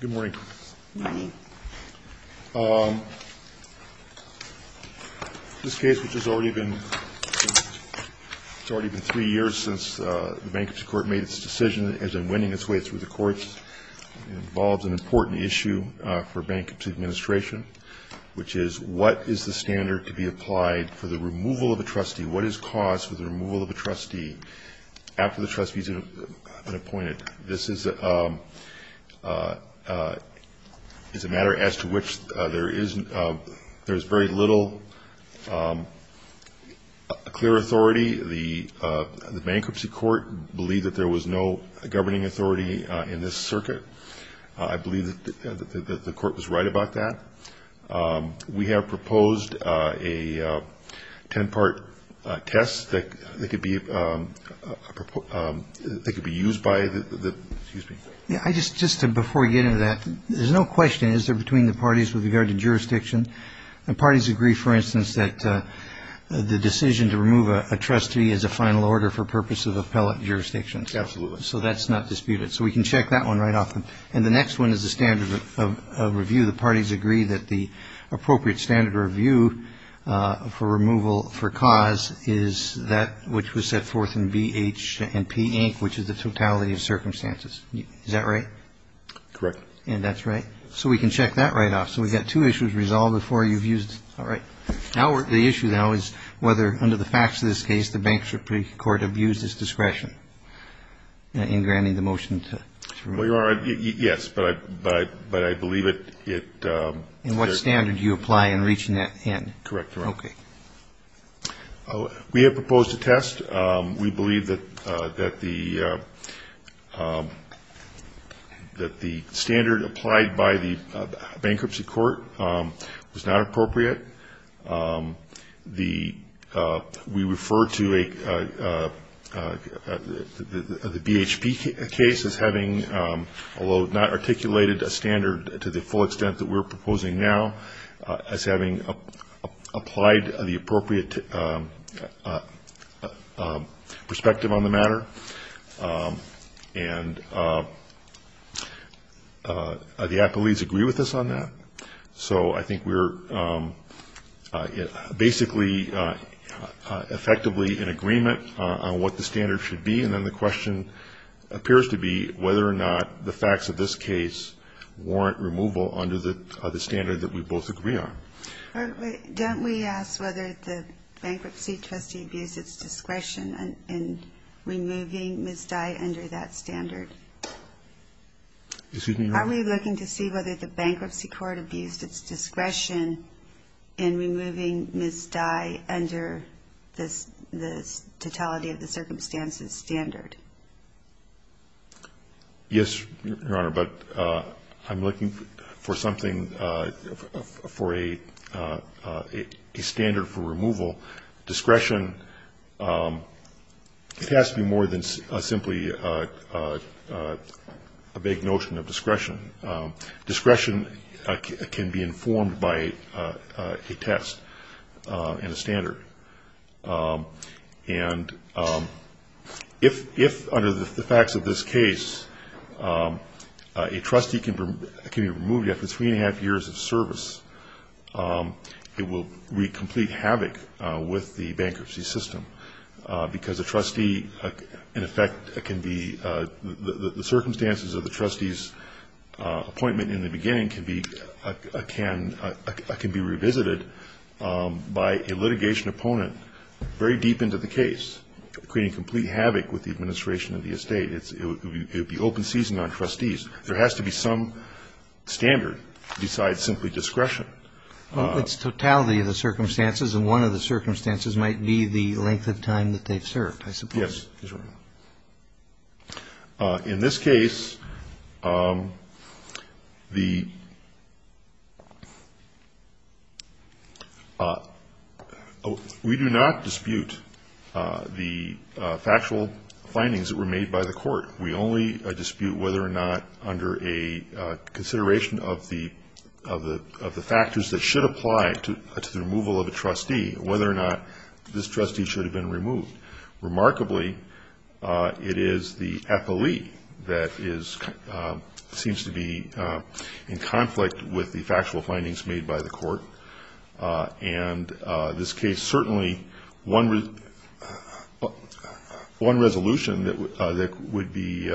Good morning. This case, which has already been three years since the Bankruptcy Court made its decision as in winning its way through the courts, involves an important issue for a bankruptcy administration, which is what is the standard to be applied for the removal of a trustee? What is caused for the removal of a trustee after the trustee has been appointed? This is a matter as to which there is very little clear authority. The Bankruptcy Court believed that there was no governing authority in this circuit. I believe that the court was right about that. We have proposed a ten-part test that could be used by the... Is that right? Correct. And that's right? So we can check that right off. So we've got two issues resolved before you've used... All right. The issue now is whether, under the facts of this case, the Bankruptcy Court abused its discretion in granting the motion to remove... Well, you are right. Yes. But I believe it... And what standard do you apply in reaching that end? Correct. Okay. We have proposed a test. We believe that the standard applied by the Bankruptcy Court was not appropriate. We refer to the BHP case as having, although not articulated a standard to the full extent that we're proposing now, as having applied the appropriate perspective on the matter. And the appellees agree with us on that. So I think we're basically effectively in agreement on what the standard should be. And then the question appears to be whether or not the facts of this case warrant removal under the standard that we both agree on. Don't we ask whether the Bankruptcy Court abused its discretion in removing Ms. Dye under that standard? Excuse me, Your Honor? Are we looking to see whether the Bankruptcy Court abused its discretion in removing Ms. Dye under the totality of the circumstances standard? Yes, Your Honor, but I'm looking for something for a standard for removal. Discretion, it has to be more than simply a vague notion of discretion. Discretion can be informed by a test and a standard. And if, under the facts of this case, a trustee can be removed after three and a half years of service, it will wreak complete havoc with the bankruptcy system. Because a trustee, in effect, can be the circumstances of the trustee's appointment in the beginning can be revisited by a litigation opponent very deep into the case, creating complete havoc with the administration of the estate. It would be open seizing on trustees. There has to be some standard besides simply discretion. Well, it's totality of the circumstances, and one of the circumstances might be the length of time that they've served, I suppose. Yes, Your Honor. In this case, the we do not dispute the factual findings that were made by the court. We only dispute whether or not under a consideration of the factors that should apply to the removal of a trustee, whether or not this trustee should have been removed. Remarkably, it is the FLE that seems to be in conflict with the factual findings made by the court. And this case, certainly, one resolution that would be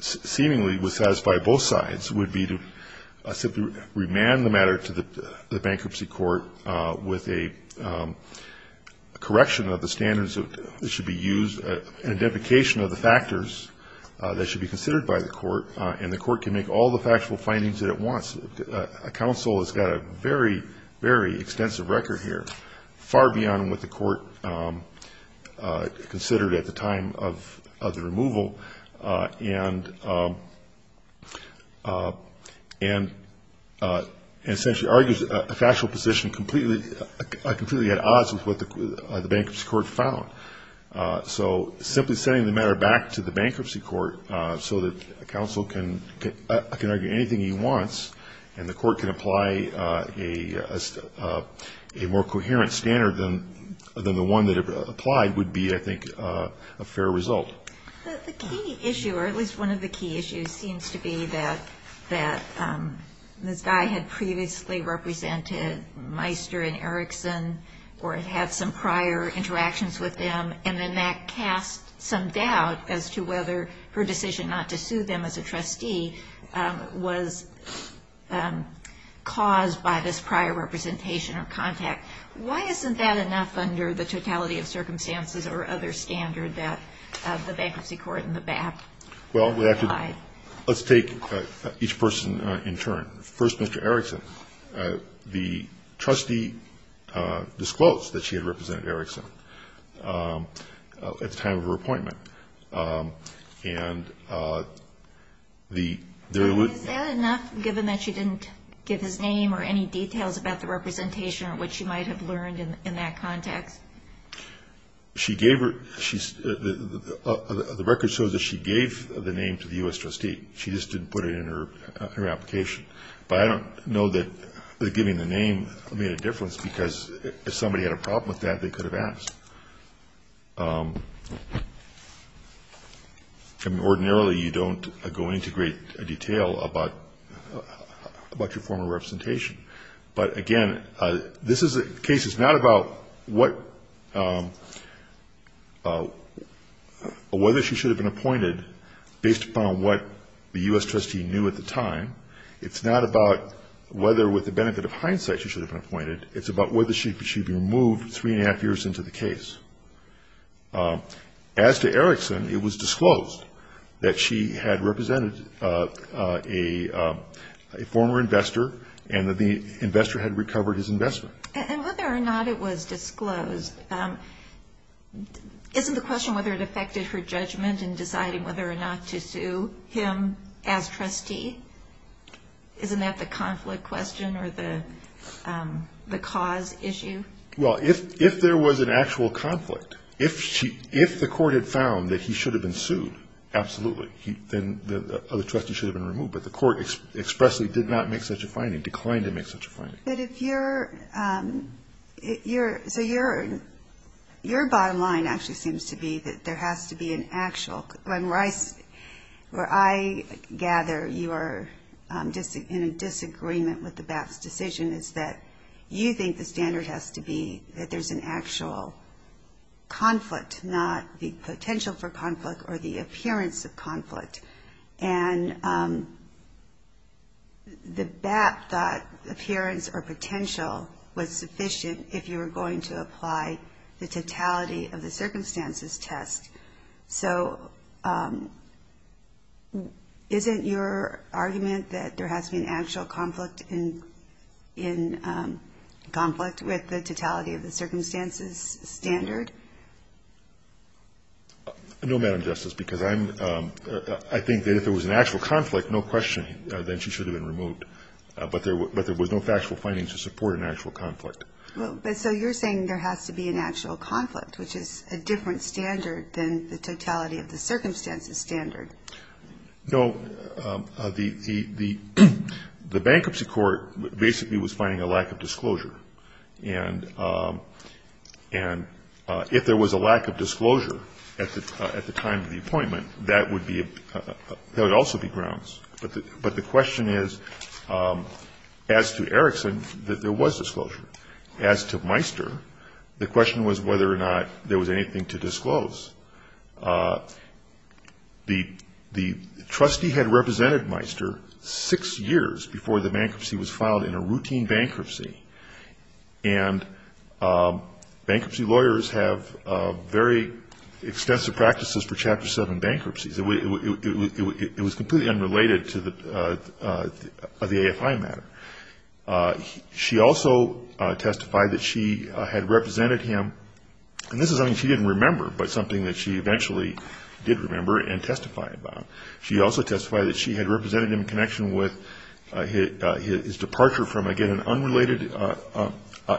seemingly would satisfy both sides would be to simply remand the matter to the bankruptcy court with a correction of the standards that should be used, and a deprecation of the factors that should be considered by the court, and the court can make all the factual findings that it wants. A counsel has got a very, very extensive record here, far beyond what the court considered at the time of the removal, and essentially argues a factual position completely at odds with what the bankruptcy court found. So simply sending the matter back to the bankruptcy court so that a counsel can argue anything he wants, and the court can apply a more coherent standard than the one that it applied would be, I think, a fair result. The key issue, or at least one of the key issues, seems to be that this guy had previously represented Meister and Erickson, or had some prior interactions with them, and then that cast some doubt as to whether her decision not to sue them as a trustee was caused by this prior representation or contact. Why isn't that enough under the totality of circumstances or other standard that the bankruptcy court and the BAP apply? Well, let's take each person in turn. First, Mr. Erickson. The trustee disclosed that she had represented Erickson at the time of her appointment. Is that enough, given that she didn't give his name or any details about the representation or what she might have learned in that context? The record shows that she gave the name to the U.S. trustee. She just didn't put it in her application. But I don't know that giving the name made a difference, because if somebody had a problem with that, they could have asked. Ordinarily, you don't go into great detail about your former representation. But, again, this case is not about whether she should have been appointed based upon what the U.S. trustee knew at the time. It's not about whether, with the benefit of hindsight, she should have been appointed. It's about whether she should be removed three and a half years into the case. As to Erickson, it was disclosed that she had represented a former investor and that the investor had recovered his investment. And whether or not it was disclosed, isn't the question whether it affected her judgment in deciding whether or not to sue him as trustee? Isn't that the conflict question or the cause issue? Well, if there was an actual conflict, if the court had found that he should have been sued, absolutely. Then the other trustee should have been removed. But the court expressly did not make such a finding, declined to make such a finding. But if you're, so your bottom line actually seems to be that there has to be an actual, where I gather you are in a disagreement with the BAP's decision is that you think the standard has to be that there's an actual conflict, not the potential for conflict or the appearance of conflict. And the BAP thought appearance or potential was sufficient if you were going to apply the totality of the circumstances test. So isn't your argument that there has to be an actual conflict in conflict with the totality of the circumstances standard? No, Madam Justice, because I think that if there was an actual conflict, no question, then she should have been removed. But there was no factual finding to support an actual conflict. Well, but so you're saying there has to be an actual conflict, which is a different standard than the totality of the circumstances standard. No. The bankruptcy court basically was finding a lack of disclosure. And if there was a lack of disclosure at the time of the appointment, that would also be grounds. But the question is, as to Erickson, that there was disclosure. As to Meister, the question was whether or not there was anything to disclose. The trustee had represented Meister six years before the bankruptcy was filed in a routine bankruptcy. And bankruptcy lawyers have very extensive practices for Chapter 7 bankruptcies. It was completely unrelated to the AFI matter. She also testified that she had represented him. And this is something she didn't remember, but something that she eventually did remember and testified about. She also testified that she had represented him in connection with his departure from, again, an unrelated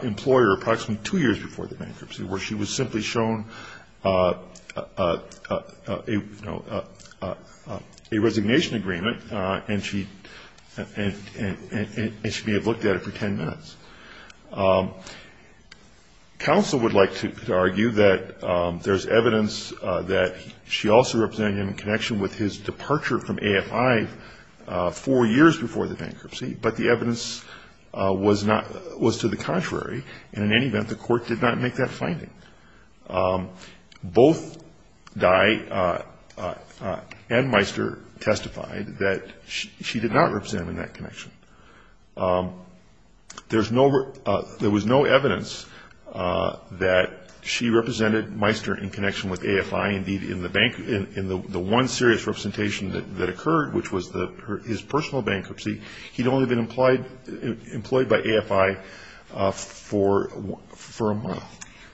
employer approximately two years before the bankruptcy, where she was simply shown a resignation agreement. And she may have looked at it for ten minutes. Counsel would like to argue that there's evidence that she also represented him in connection with his departure from AFI four years before the bankruptcy, but the evidence was to the contrary. And in any event, the court did not make that finding. Both Dye and Meister testified that she did not represent him in that connection. There was no evidence that she represented Meister in connection with AFI. Indeed, in the one serious representation that occurred, which was his personal bankruptcy, he'd only been employed by AFI for a month.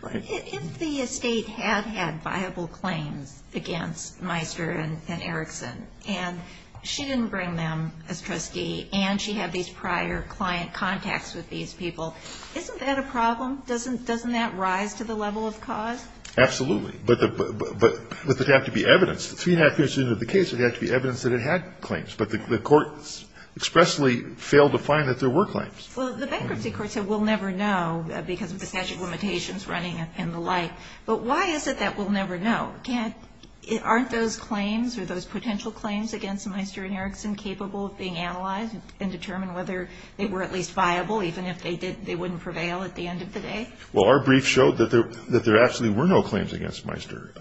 If the estate had had viable claims against Meister and Erickson, and she didn't bring them as trustee, and she had these prior client contacts with these people, isn't that a problem? Doesn't that rise to the level of cause? Absolutely. But there'd have to be evidence. Three and a half years into the case, there'd have to be evidence that it had claims. But the court expressly failed to find that there were claims. Well, the bankruptcy court said we'll never know because of the statute of limitations running and the like. But why is it that we'll never know? Aren't those claims or those potential claims against Meister and Erickson capable of being analyzed and determined whether they were at least viable, even if they wouldn't prevail at the end of the day? Well, our brief showed that there actually were no claims against Meister.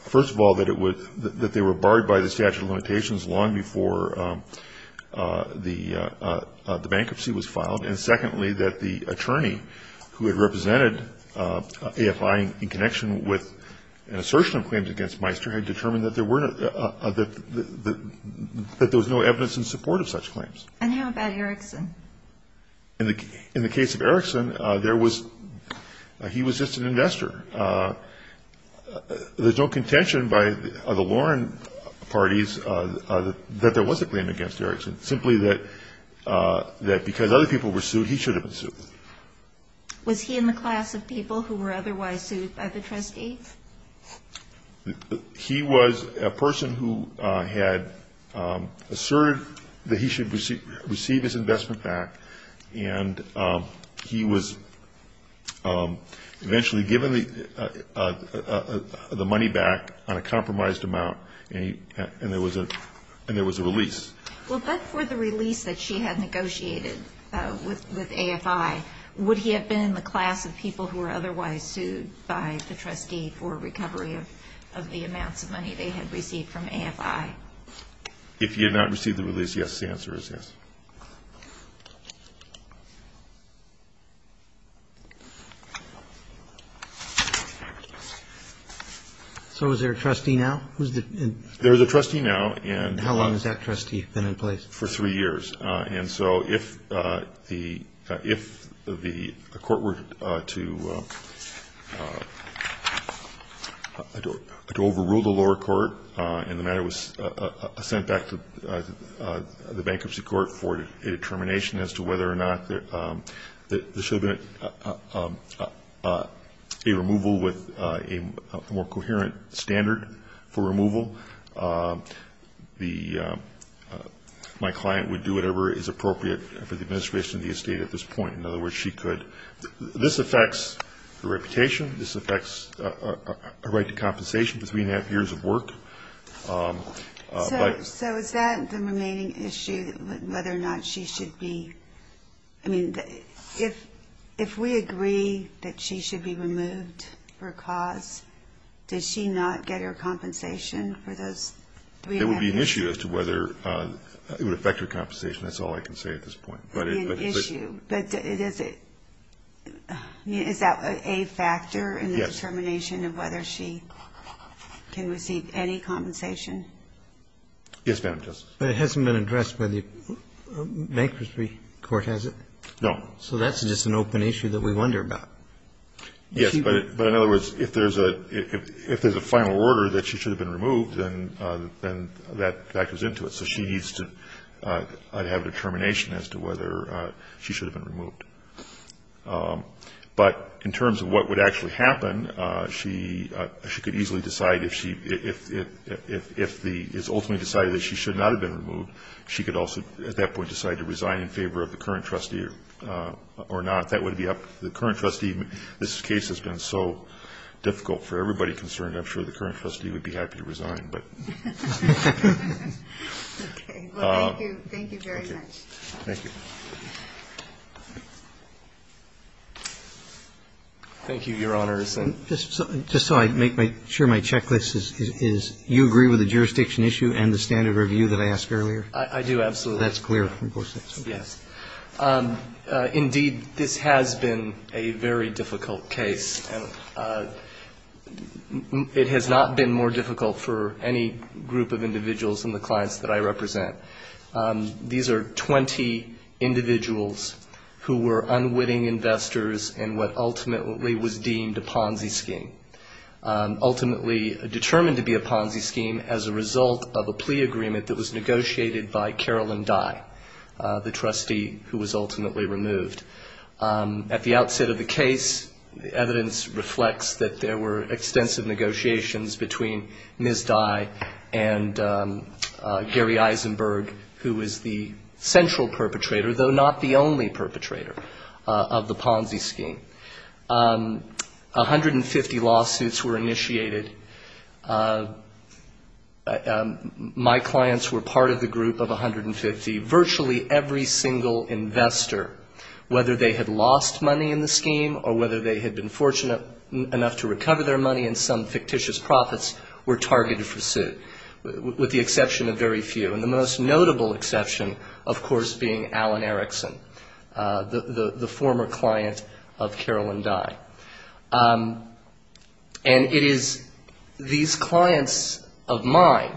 First of all, that they were barred by the statute of limitations long before the bankruptcy was filed. And secondly, that the attorney who had represented AFI in connection with an assertion of claims against Meister had determined that there was no evidence in support of such claims. And how about Erickson? In the case of Erickson, there was he was just an investor. There's no contention by the Warren parties that there was a claim against Erickson, simply that because other people were sued, he should have been sued. Was he in the class of people who were otherwise sued by the trustees? He was a person who had asserted that he should receive his investment back. And he was eventually given the money back on a compromised amount, and there was a release. Well, but for the release that she had negotiated with AFI, would he have been in the class of people who were otherwise sued by the trustee for recovery of the amounts of money they had received from AFI? If he had not received the release, yes, the answer is yes. So is there a trustee now? There is a trustee now. And how long has that trustee been in place? For three years. And so if the court were to overrule the lower court and the matter was sent back to the bankruptcy court for a determination as to whether or not there should be a removal with a more coherent standard for removal, my client would do whatever is appropriate for the administration of the estate at this point. In other words, she could. This affects her reputation. This affects her right to compensation for three and a half years of work. So is that the remaining issue, whether or not she should be? I mean, if we agree that she should be removed for a cause, does she not get her compensation for those three and a half years? It would be an issue as to whether it would affect her compensation. That's all I can say at this point. It would be an issue. But is it? Is that a factor in the determination of whether she can receive any compensation? Yes, Madam Justice. But it hasn't been addressed by the bankruptcy court, has it? No. So that's just an open issue that we wonder about. Yes, but in other words, if there's a final order that she should have been removed, then that goes into it. So she needs to have a determination as to whether she should have been removed. But in terms of what would actually happen, she could easily decide if it's ultimately decided that she should not have been removed, she could also at that point decide to resign in favor of the current trustee or not. That would be up to the current trustee. This case has been so difficult for everybody concerned. I'm sure the current trustee would be happy to resign. Okay. Well, thank you. Thank you very much. Thank you. Thank you, Your Honors. Just so I make sure my checklist is, you agree with the jurisdiction issue and the standard review that I asked earlier? I do, absolutely. That's clear? Yes. Indeed, this has been a very difficult case. It has not been more difficult for any group of individuals and the clients that I represent. These are 20 individuals who were unwitting investors in what ultimately was deemed a Ponzi scheme, ultimately determined to be a Ponzi scheme as a result of a plea agreement that was negotiated by Carolyn Dye, the trustee who was ultimately removed. At the outset of the case, evidence reflects that there were extensive negotiations between Ms. Dye and Gary Eisenberg, who was the central perpetrator, though not the only perpetrator, of the Ponzi scheme. 150 lawsuits were initiated. My clients were part of the group of 150. Virtually every single investor, whether they had lost money in the scheme or whether they had been fortunate enough to recover their money in some fictitious profits, were targeted for suit, with the exception of very few. And the most notable exception, of course, being Alan Erickson, the former client of Carolyn Dye. And it is these clients of mine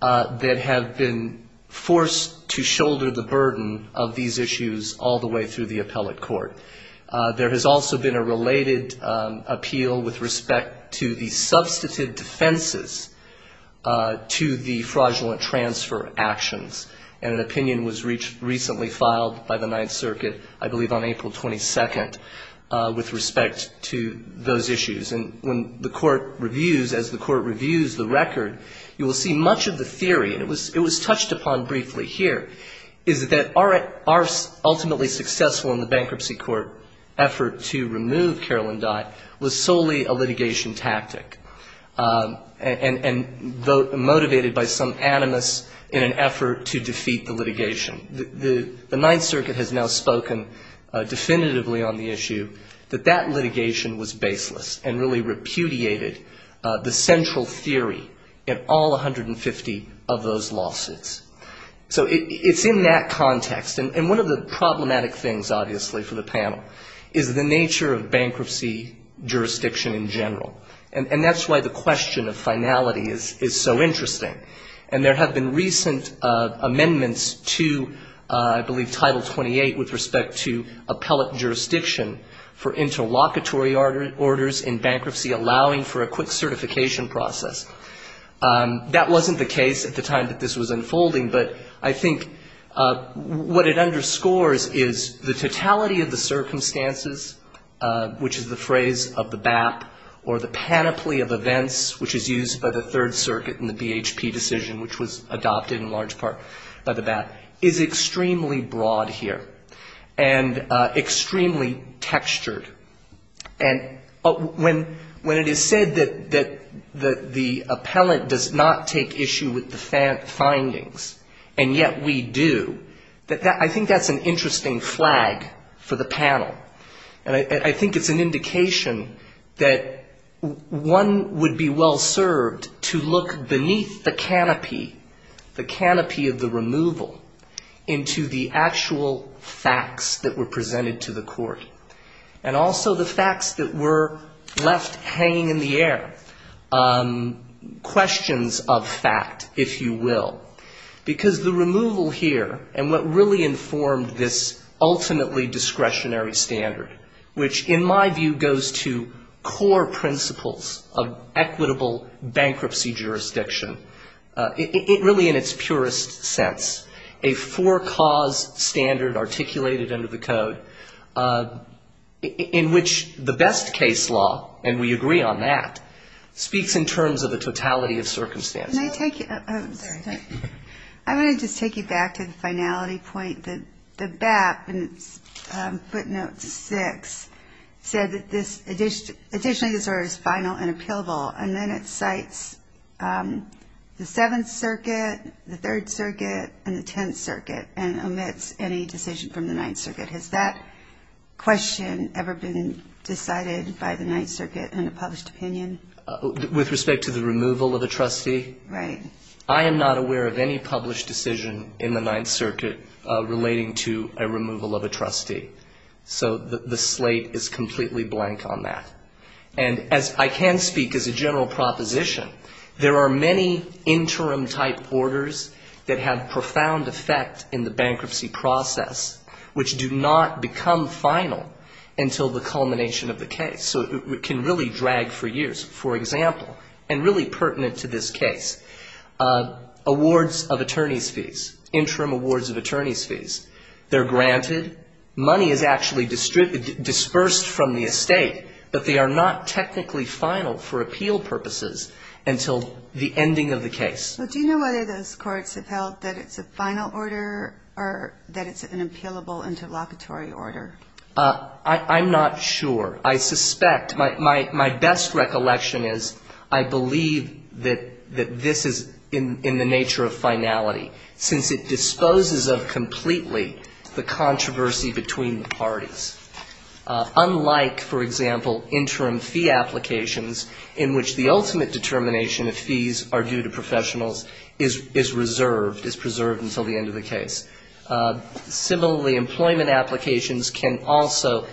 that have been forced to shoulder the burden of these issues all the way through the appellate court. There has also been a related appeal with respect to the substantive defenses to the fraudulent transfer actions, and an opinion was recently filed by the Ninth Circuit, I believe on April 22nd, with respect to those issues. And when the court reviews, as the court reviews the record, you will see much of the theory, and it was touched upon briefly here, is that our ultimately successful in the bankruptcy court effort to remove Carolyn Dye was solely a litigation tactic, and motivated by some animus in an effort to defeat the litigation. The Ninth Circuit has now spoken definitively on the issue that that litigation was baseless, and really repudiated the central theory in all 150 of those lawsuits. So it's in that context, and one of the problematic things, obviously, for the panel, is the nature of bankruptcy jurisdiction in general. And that's why the question of finality is so interesting. And there have been recent amendments to, I believe, Title 28 with respect to appellate jurisdiction for interlocutory orders in bankruptcy, allowing for a quick certification process. That wasn't the case at the time that this was unfolding, but I think what it underscores is the totality of the circumstances, which is the phrase of the BAP, or the panoply of events, which is used by the Third Circuit in the BHP decision, which was adopted in large part by the BAP, is extremely broad here, and extremely textured. And when it is said that the appellate does not take issue with the findings, and yet we do, I think that's an interesting flag for the panel. And I think it's an indication that one would be well served to look beneath the canopy, the canopy of the removal, into the actual facts that were presented to the court. And also the facts that were left hanging in the air, questions of fact, if you will. Because the removal here, and what really informed this ultimately discretionary standard, which in my view goes to core principles of equitable bankruptcy jurisdiction, it really, in its purest sense, a four-cause standard articulated under the code, in which the best case law, and we agree on that, speaks in terms of a totality of circumstances. I want to just take you back to the finality point that the BAP, in its footnote 6, said that additionally this order is final and appealable, and then it cites the Seventh Circuit, the Third Circuit, and the Tenth Circuit, and omits any decision from the Ninth Circuit. Has that question ever been decided by the Ninth Circuit in a published opinion? With respect to the removal of a trustee? I am not aware of any published decision in the Ninth Circuit relating to a removal of a trustee. So the slate is completely blank on that. And as I can speak as a general proposition, there are many interim-type orders that have profound effect in the bankruptcy process which do not become final until the culmination of the case. So it can really drag for years. For example, and really pertinent to this case, awards of attorney's fees, interim awards of attorney's fees, they're granted, money is actually dispersed from the estate, but they are not technically final for appeal purposes until the ending of the case. Do you know whether those courts have held that it's a final order or that it's an appealable interlocutory order? I'm not sure. I suspect, my best recollection is I believe that this is in the nature of finality, since it disposes of completely the controversy between the parties. Unlike, for example, interim fee applications in which the ultimate determination of fees are due to professionals is reserved, is preserved until the end of the case. Similarly, employment applications can also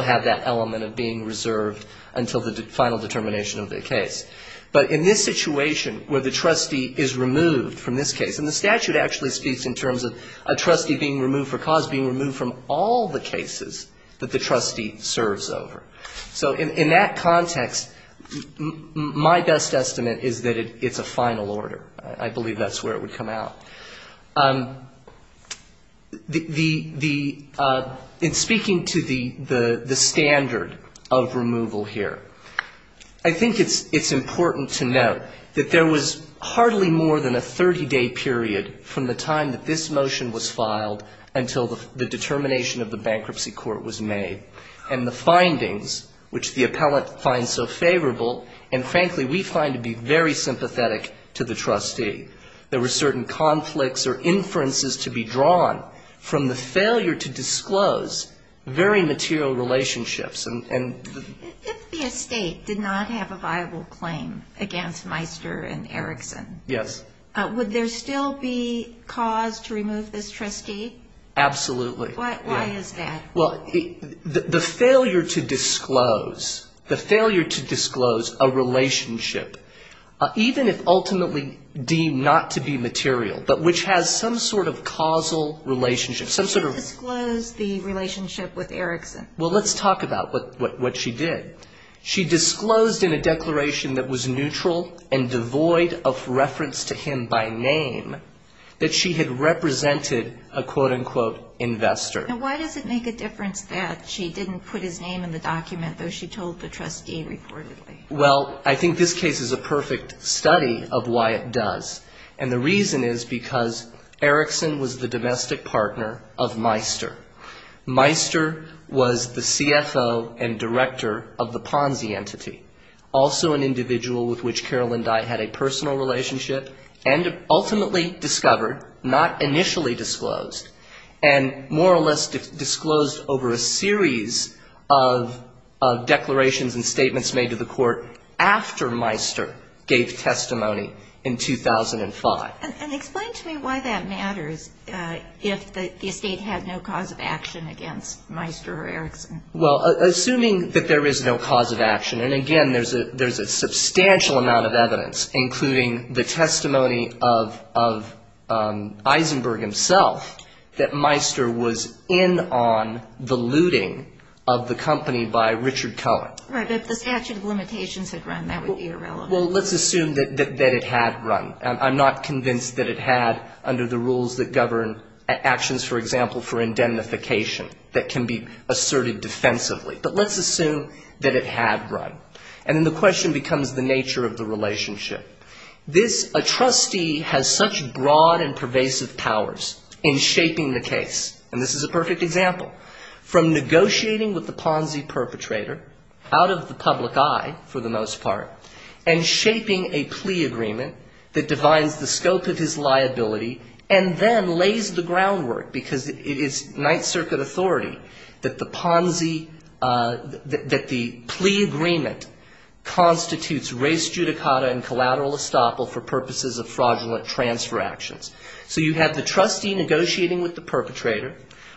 have that element of being reserved until the final determination of the case. But in this situation where the trustee is removed from this case, and the statute actually speaks in terms of a trustee being removed for cause being removed from all the cases that the trustee serves over. So in that context, my best estimate is that it's a final order. I believe that's where it would come out. In speaking to the standard of removal here, I think it's important to note that there was hardly more than a 30-day period from the time that this motion was filed until the determination of the bankruptcy court was made. And the findings, which the appellant finds so favorable, and frankly we find to be very sympathetic to the trustee, there were certain conflicts or inferences to be drawn from the failure to disclose very material relationships. If the estate did not have a viable claim against Meister and Erickson, would there still be cause to remove this trustee? Absolutely. Why is that? Well, the failure to disclose a relationship, even if ultimately deemed not to be material, but which has some sort of causal relationship. She didn't disclose the relationship with Erickson. Well, let's talk about what she did. She disclosed in a declaration that was neutral and devoid of reference to him by name that she had represented a quote-unquote investor. And why does it make a difference that she didn't put his name in the document, though she told the trustee reportedly? Well, I think this case is a perfect study of why it does. And the reason is because Erickson was the domestic partner of Meister. He was also the Ponzi entity, also an individual with which Carol and I had a personal relationship, and ultimately discovered, not initially disclosed, and more or less disclosed over a series of declarations and statements made to the Court after Meister gave testimony in 2005. And explain to me why that matters, if the estate had no cause of action against Meister or Erickson. Well, assuming that there is no cause of action, and again, there's a substantial amount of evidence, including the testimony of Eisenberg himself, that Meister was in on the looting of the company by Richard Cohen. Right, but if the statute of limitations had run, that would be irrelevant. Well, let's assume that it had run. I'm not convinced that it had under the rules that govern actions, for example, for indemnification that can be asserted defense. But let's assume that it had run. And then the question becomes the nature of the relationship. This, a trustee has such broad and pervasive powers in shaping the case, and this is a perfect example, from negotiating with the Ponzi perpetrator out of the public eye, for the most part, and shaping a plea agreement that defines the scope of his liability, and then lays the claim that the plea agreement constitutes race judicata and collateral estoppel for purposes of fraudulent transfer actions. So you have the trustee negotiating with the perpetrator.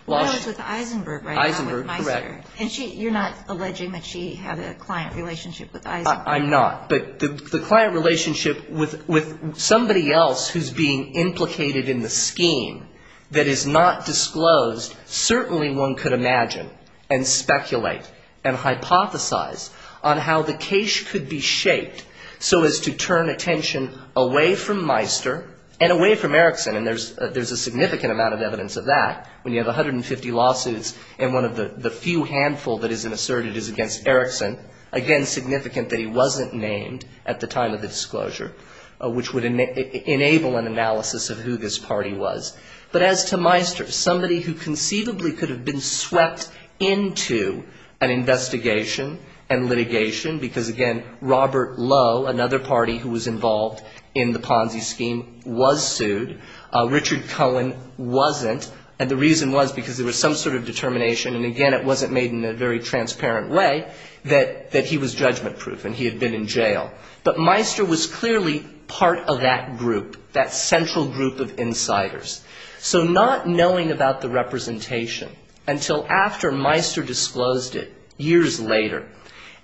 Well, I was with Eisenberg, right? Eisenberg, correct. And you're not alleging that she had a client relationship with Eisenberg? I'm not. But the client relationship with somebody else who's being implicated in the scheme that is not disclosed, certainly one could imagine. But one could speculate and hypothesize on how the case could be shaped so as to turn attention away from Meister and away from Erickson. And there's a significant amount of evidence of that. When you have 150 lawsuits and one of the few handful that isn't asserted is against Erickson, again, significant that he wasn't named at the time of the disclosure, which would enable an analysis of who this party was. But as to Meister, somebody who conceivably could have been swept into an investigation and litigation, because, again, Robert Lowe, another party who was involved in the Ponzi scheme, was sued. Richard Cohen wasn't, and the reason was because there was some sort of determination, and again, it wasn't made in a very transparent way, that he was judgment-proof and he had been in jail. But Meister was clearly part of that group, that central group of insiders. So not knowing about the representation until after Meister disclosed it years later,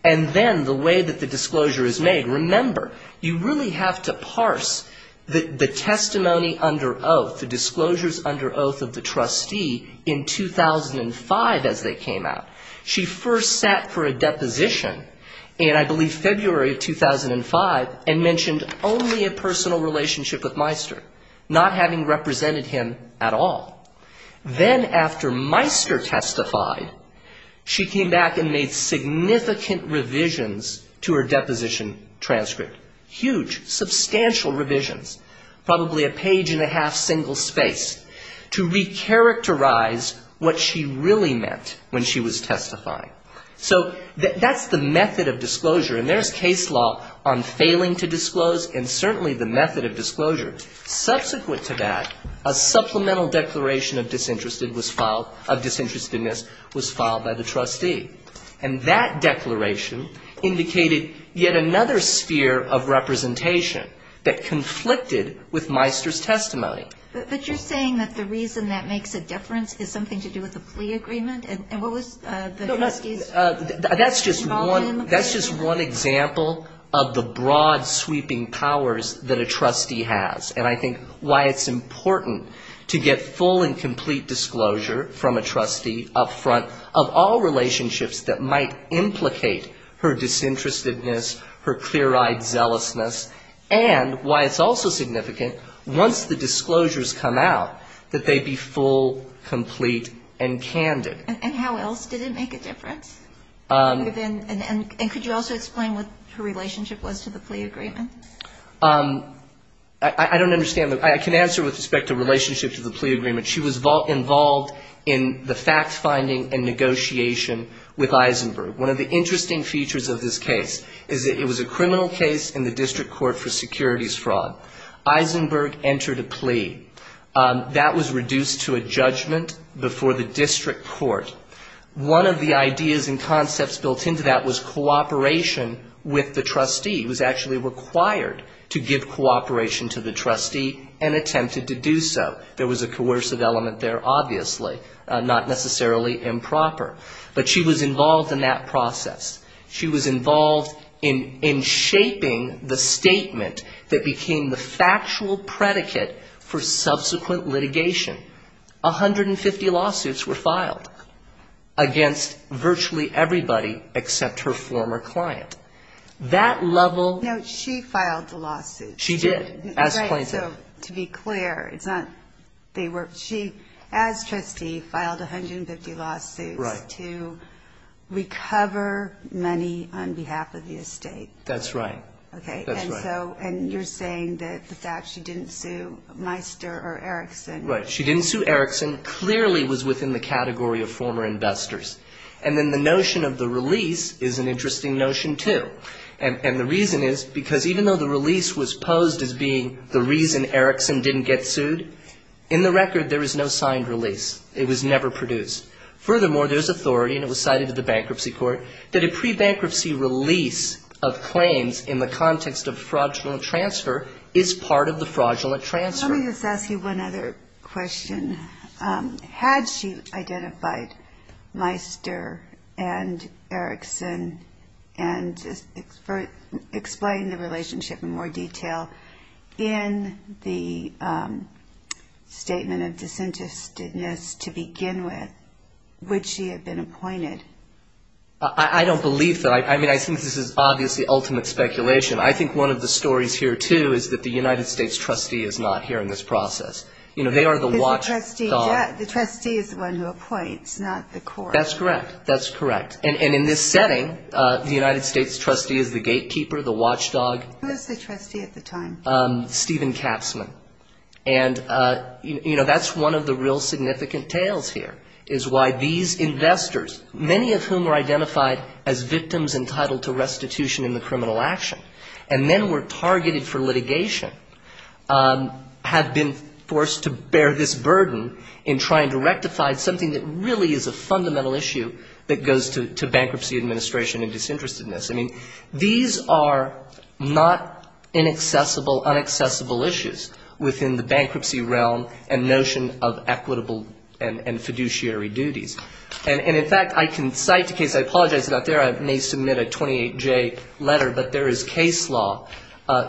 and then the way that the disclosure is made. Remember, you really have to parse the testimony under oath, the disclosures under oath of the trustee in 2005 as they came out. She first sat for a deposition in, I believe, February of 2005, and mentioned only a personal relationship with Meister, not having represented him at all. Then after Meister testified, she came back and made significant revisions to her deposition transcript. Huge, substantial revisions, probably a page and a half single space, to recharacterize what she really meant when she was testifying. So that's the method of disclosure, and there's case law on failing to disclose, and certainly the method of disclosure. Subsequent to that, a supplemental declaration of disinterested was filed, of disinterestedness was filed by the trustee. And that declaration indicated yet another sphere of representation that conflicted with Meister's testimony. But you're saying that the reason that makes a difference is something to do with the plea agreement? And what was the trustee's involvement in the plea agreement? That's just one example of the broad sweeping powers that a trustee has, and I think why it's important to get full and complete disclosure from a trustee up front of all relationships that might implicate her disinterestedness, her clear-eyed zealousness, and why it's also significant, once the disclosures come out, that they be full, complete, and candid. And how else did it make a difference? And could you also explain what her relationship was to the plea agreement? I don't understand. I can answer with respect to relationship to the plea agreement. She was involved in the fact-finding and negotiation with Eisenberg. One of the interesting features of this case is that it was a criminal case in the district court for securities fraud. Eisenberg entered a plea. That was reduced to a judgment before the district court. One of the ideas and concepts built into that was cooperation with the trustee. It was actually required to give cooperation to the trustee and attempted to do so. There was a coercive element there, obviously, not necessarily improper. But she was involved in that process. She was involved in shaping the statement that became the factual predicate for subsequent lawsuits against virtually everybody except her former client. That level No, she filed the lawsuit. She did, as plaintiff. Right, so to be clear, it's not they were, she, as trustee, filed 150 lawsuits to recover money on behalf of the estate. That's right. And you're saying that the fact she didn't sue Meister or Erickson. Right. She didn't sue Erickson. Clearly was within the category of former investors. And then the notion of the release is an interesting notion, too. And the reason is because even though the release was posed as being the reason Erickson didn't get sued, in the record there is no signed release. It was never produced. Furthermore, there's authority, and it was cited to the bankruptcy court, that a pre-bankruptcy release of claims in the context of fraudulent transfer is part of the fraudulent transfer. Let me just ask you one other question. Had she identified Meister and Erickson and explained the relationship in more detail in the statement of disinterestedness to begin with, would she have been appointed? I don't believe that. I mean, I think this is obviously ultimate speculation. I think one of the stories here, too, is that the United States trustee is not here in this process. You know, they are the watchdog. Because the trustee is the one who appoints, not the court. That's correct. That's correct. And in this setting, the United States trustee is the gatekeeper, the watchdog. Who was the trustee at the time? Stephen Katzman. And, you know, that's one of the real significant tales here, is why these investors, many of whom are identified as victims entitled to restitution in the criminal action, and then were targeted for litigation, have been forced to bear this burden in trying to rectify something that really is a fundamental issue that goes to bankruptcy administration and disinterestedness. I mean, these are not inaccessible, unacceptable cases. These are fundamental, unaccessible issues within the bankruptcy realm and notion of equitable and fiduciary duties. And, in fact, I can cite a case. I apologize it's not there. I may submit a 28J letter. But there is case law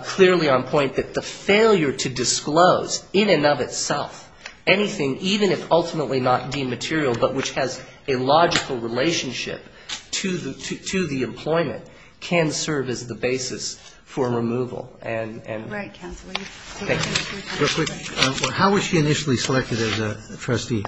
clearly on point that the failure to disclose, in and of itself, anything, even if ultimately not dematerial, but which has a logical relationship to the employment, can serve as the basis for removal and removal. Roberts. Thank you. How was she initially selected as a trustee?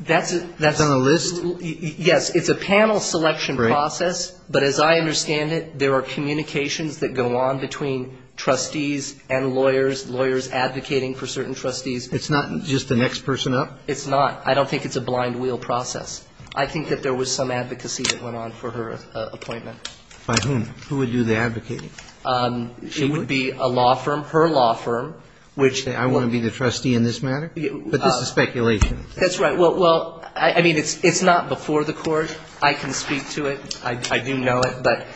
That's a list? Yes. It's a panel selection process. Right. But as I understand it, there are communications that go on between trustees and lawyers, lawyers advocating for certain trustees. It's not just the next person up? It's not. I don't think it's a blind-wheel process. I think that there was some advocacy that went on for her appointment. By whom? Who would do the advocating? It would be a law firm, her law firm, which I want to be the trustee in this matter? But this is speculation. That's right. Well, I mean, it's not before the Court. I can speak to it. I do know it. But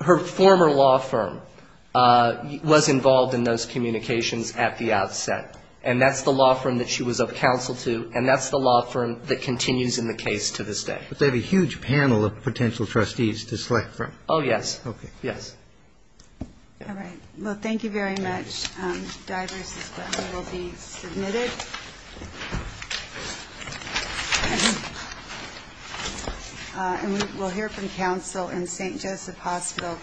her former law firm was involved in those communications at the outset. And that's the law firm that she was of counsel to, and that's the law firm that continues in the case to this day. But they have a huge panel of potential trustees to select from. Oh, yes. Okay. Yes. All right. Well, thank you very much. And we will hear from counsel in St. Joseph Hospital v. Levitt.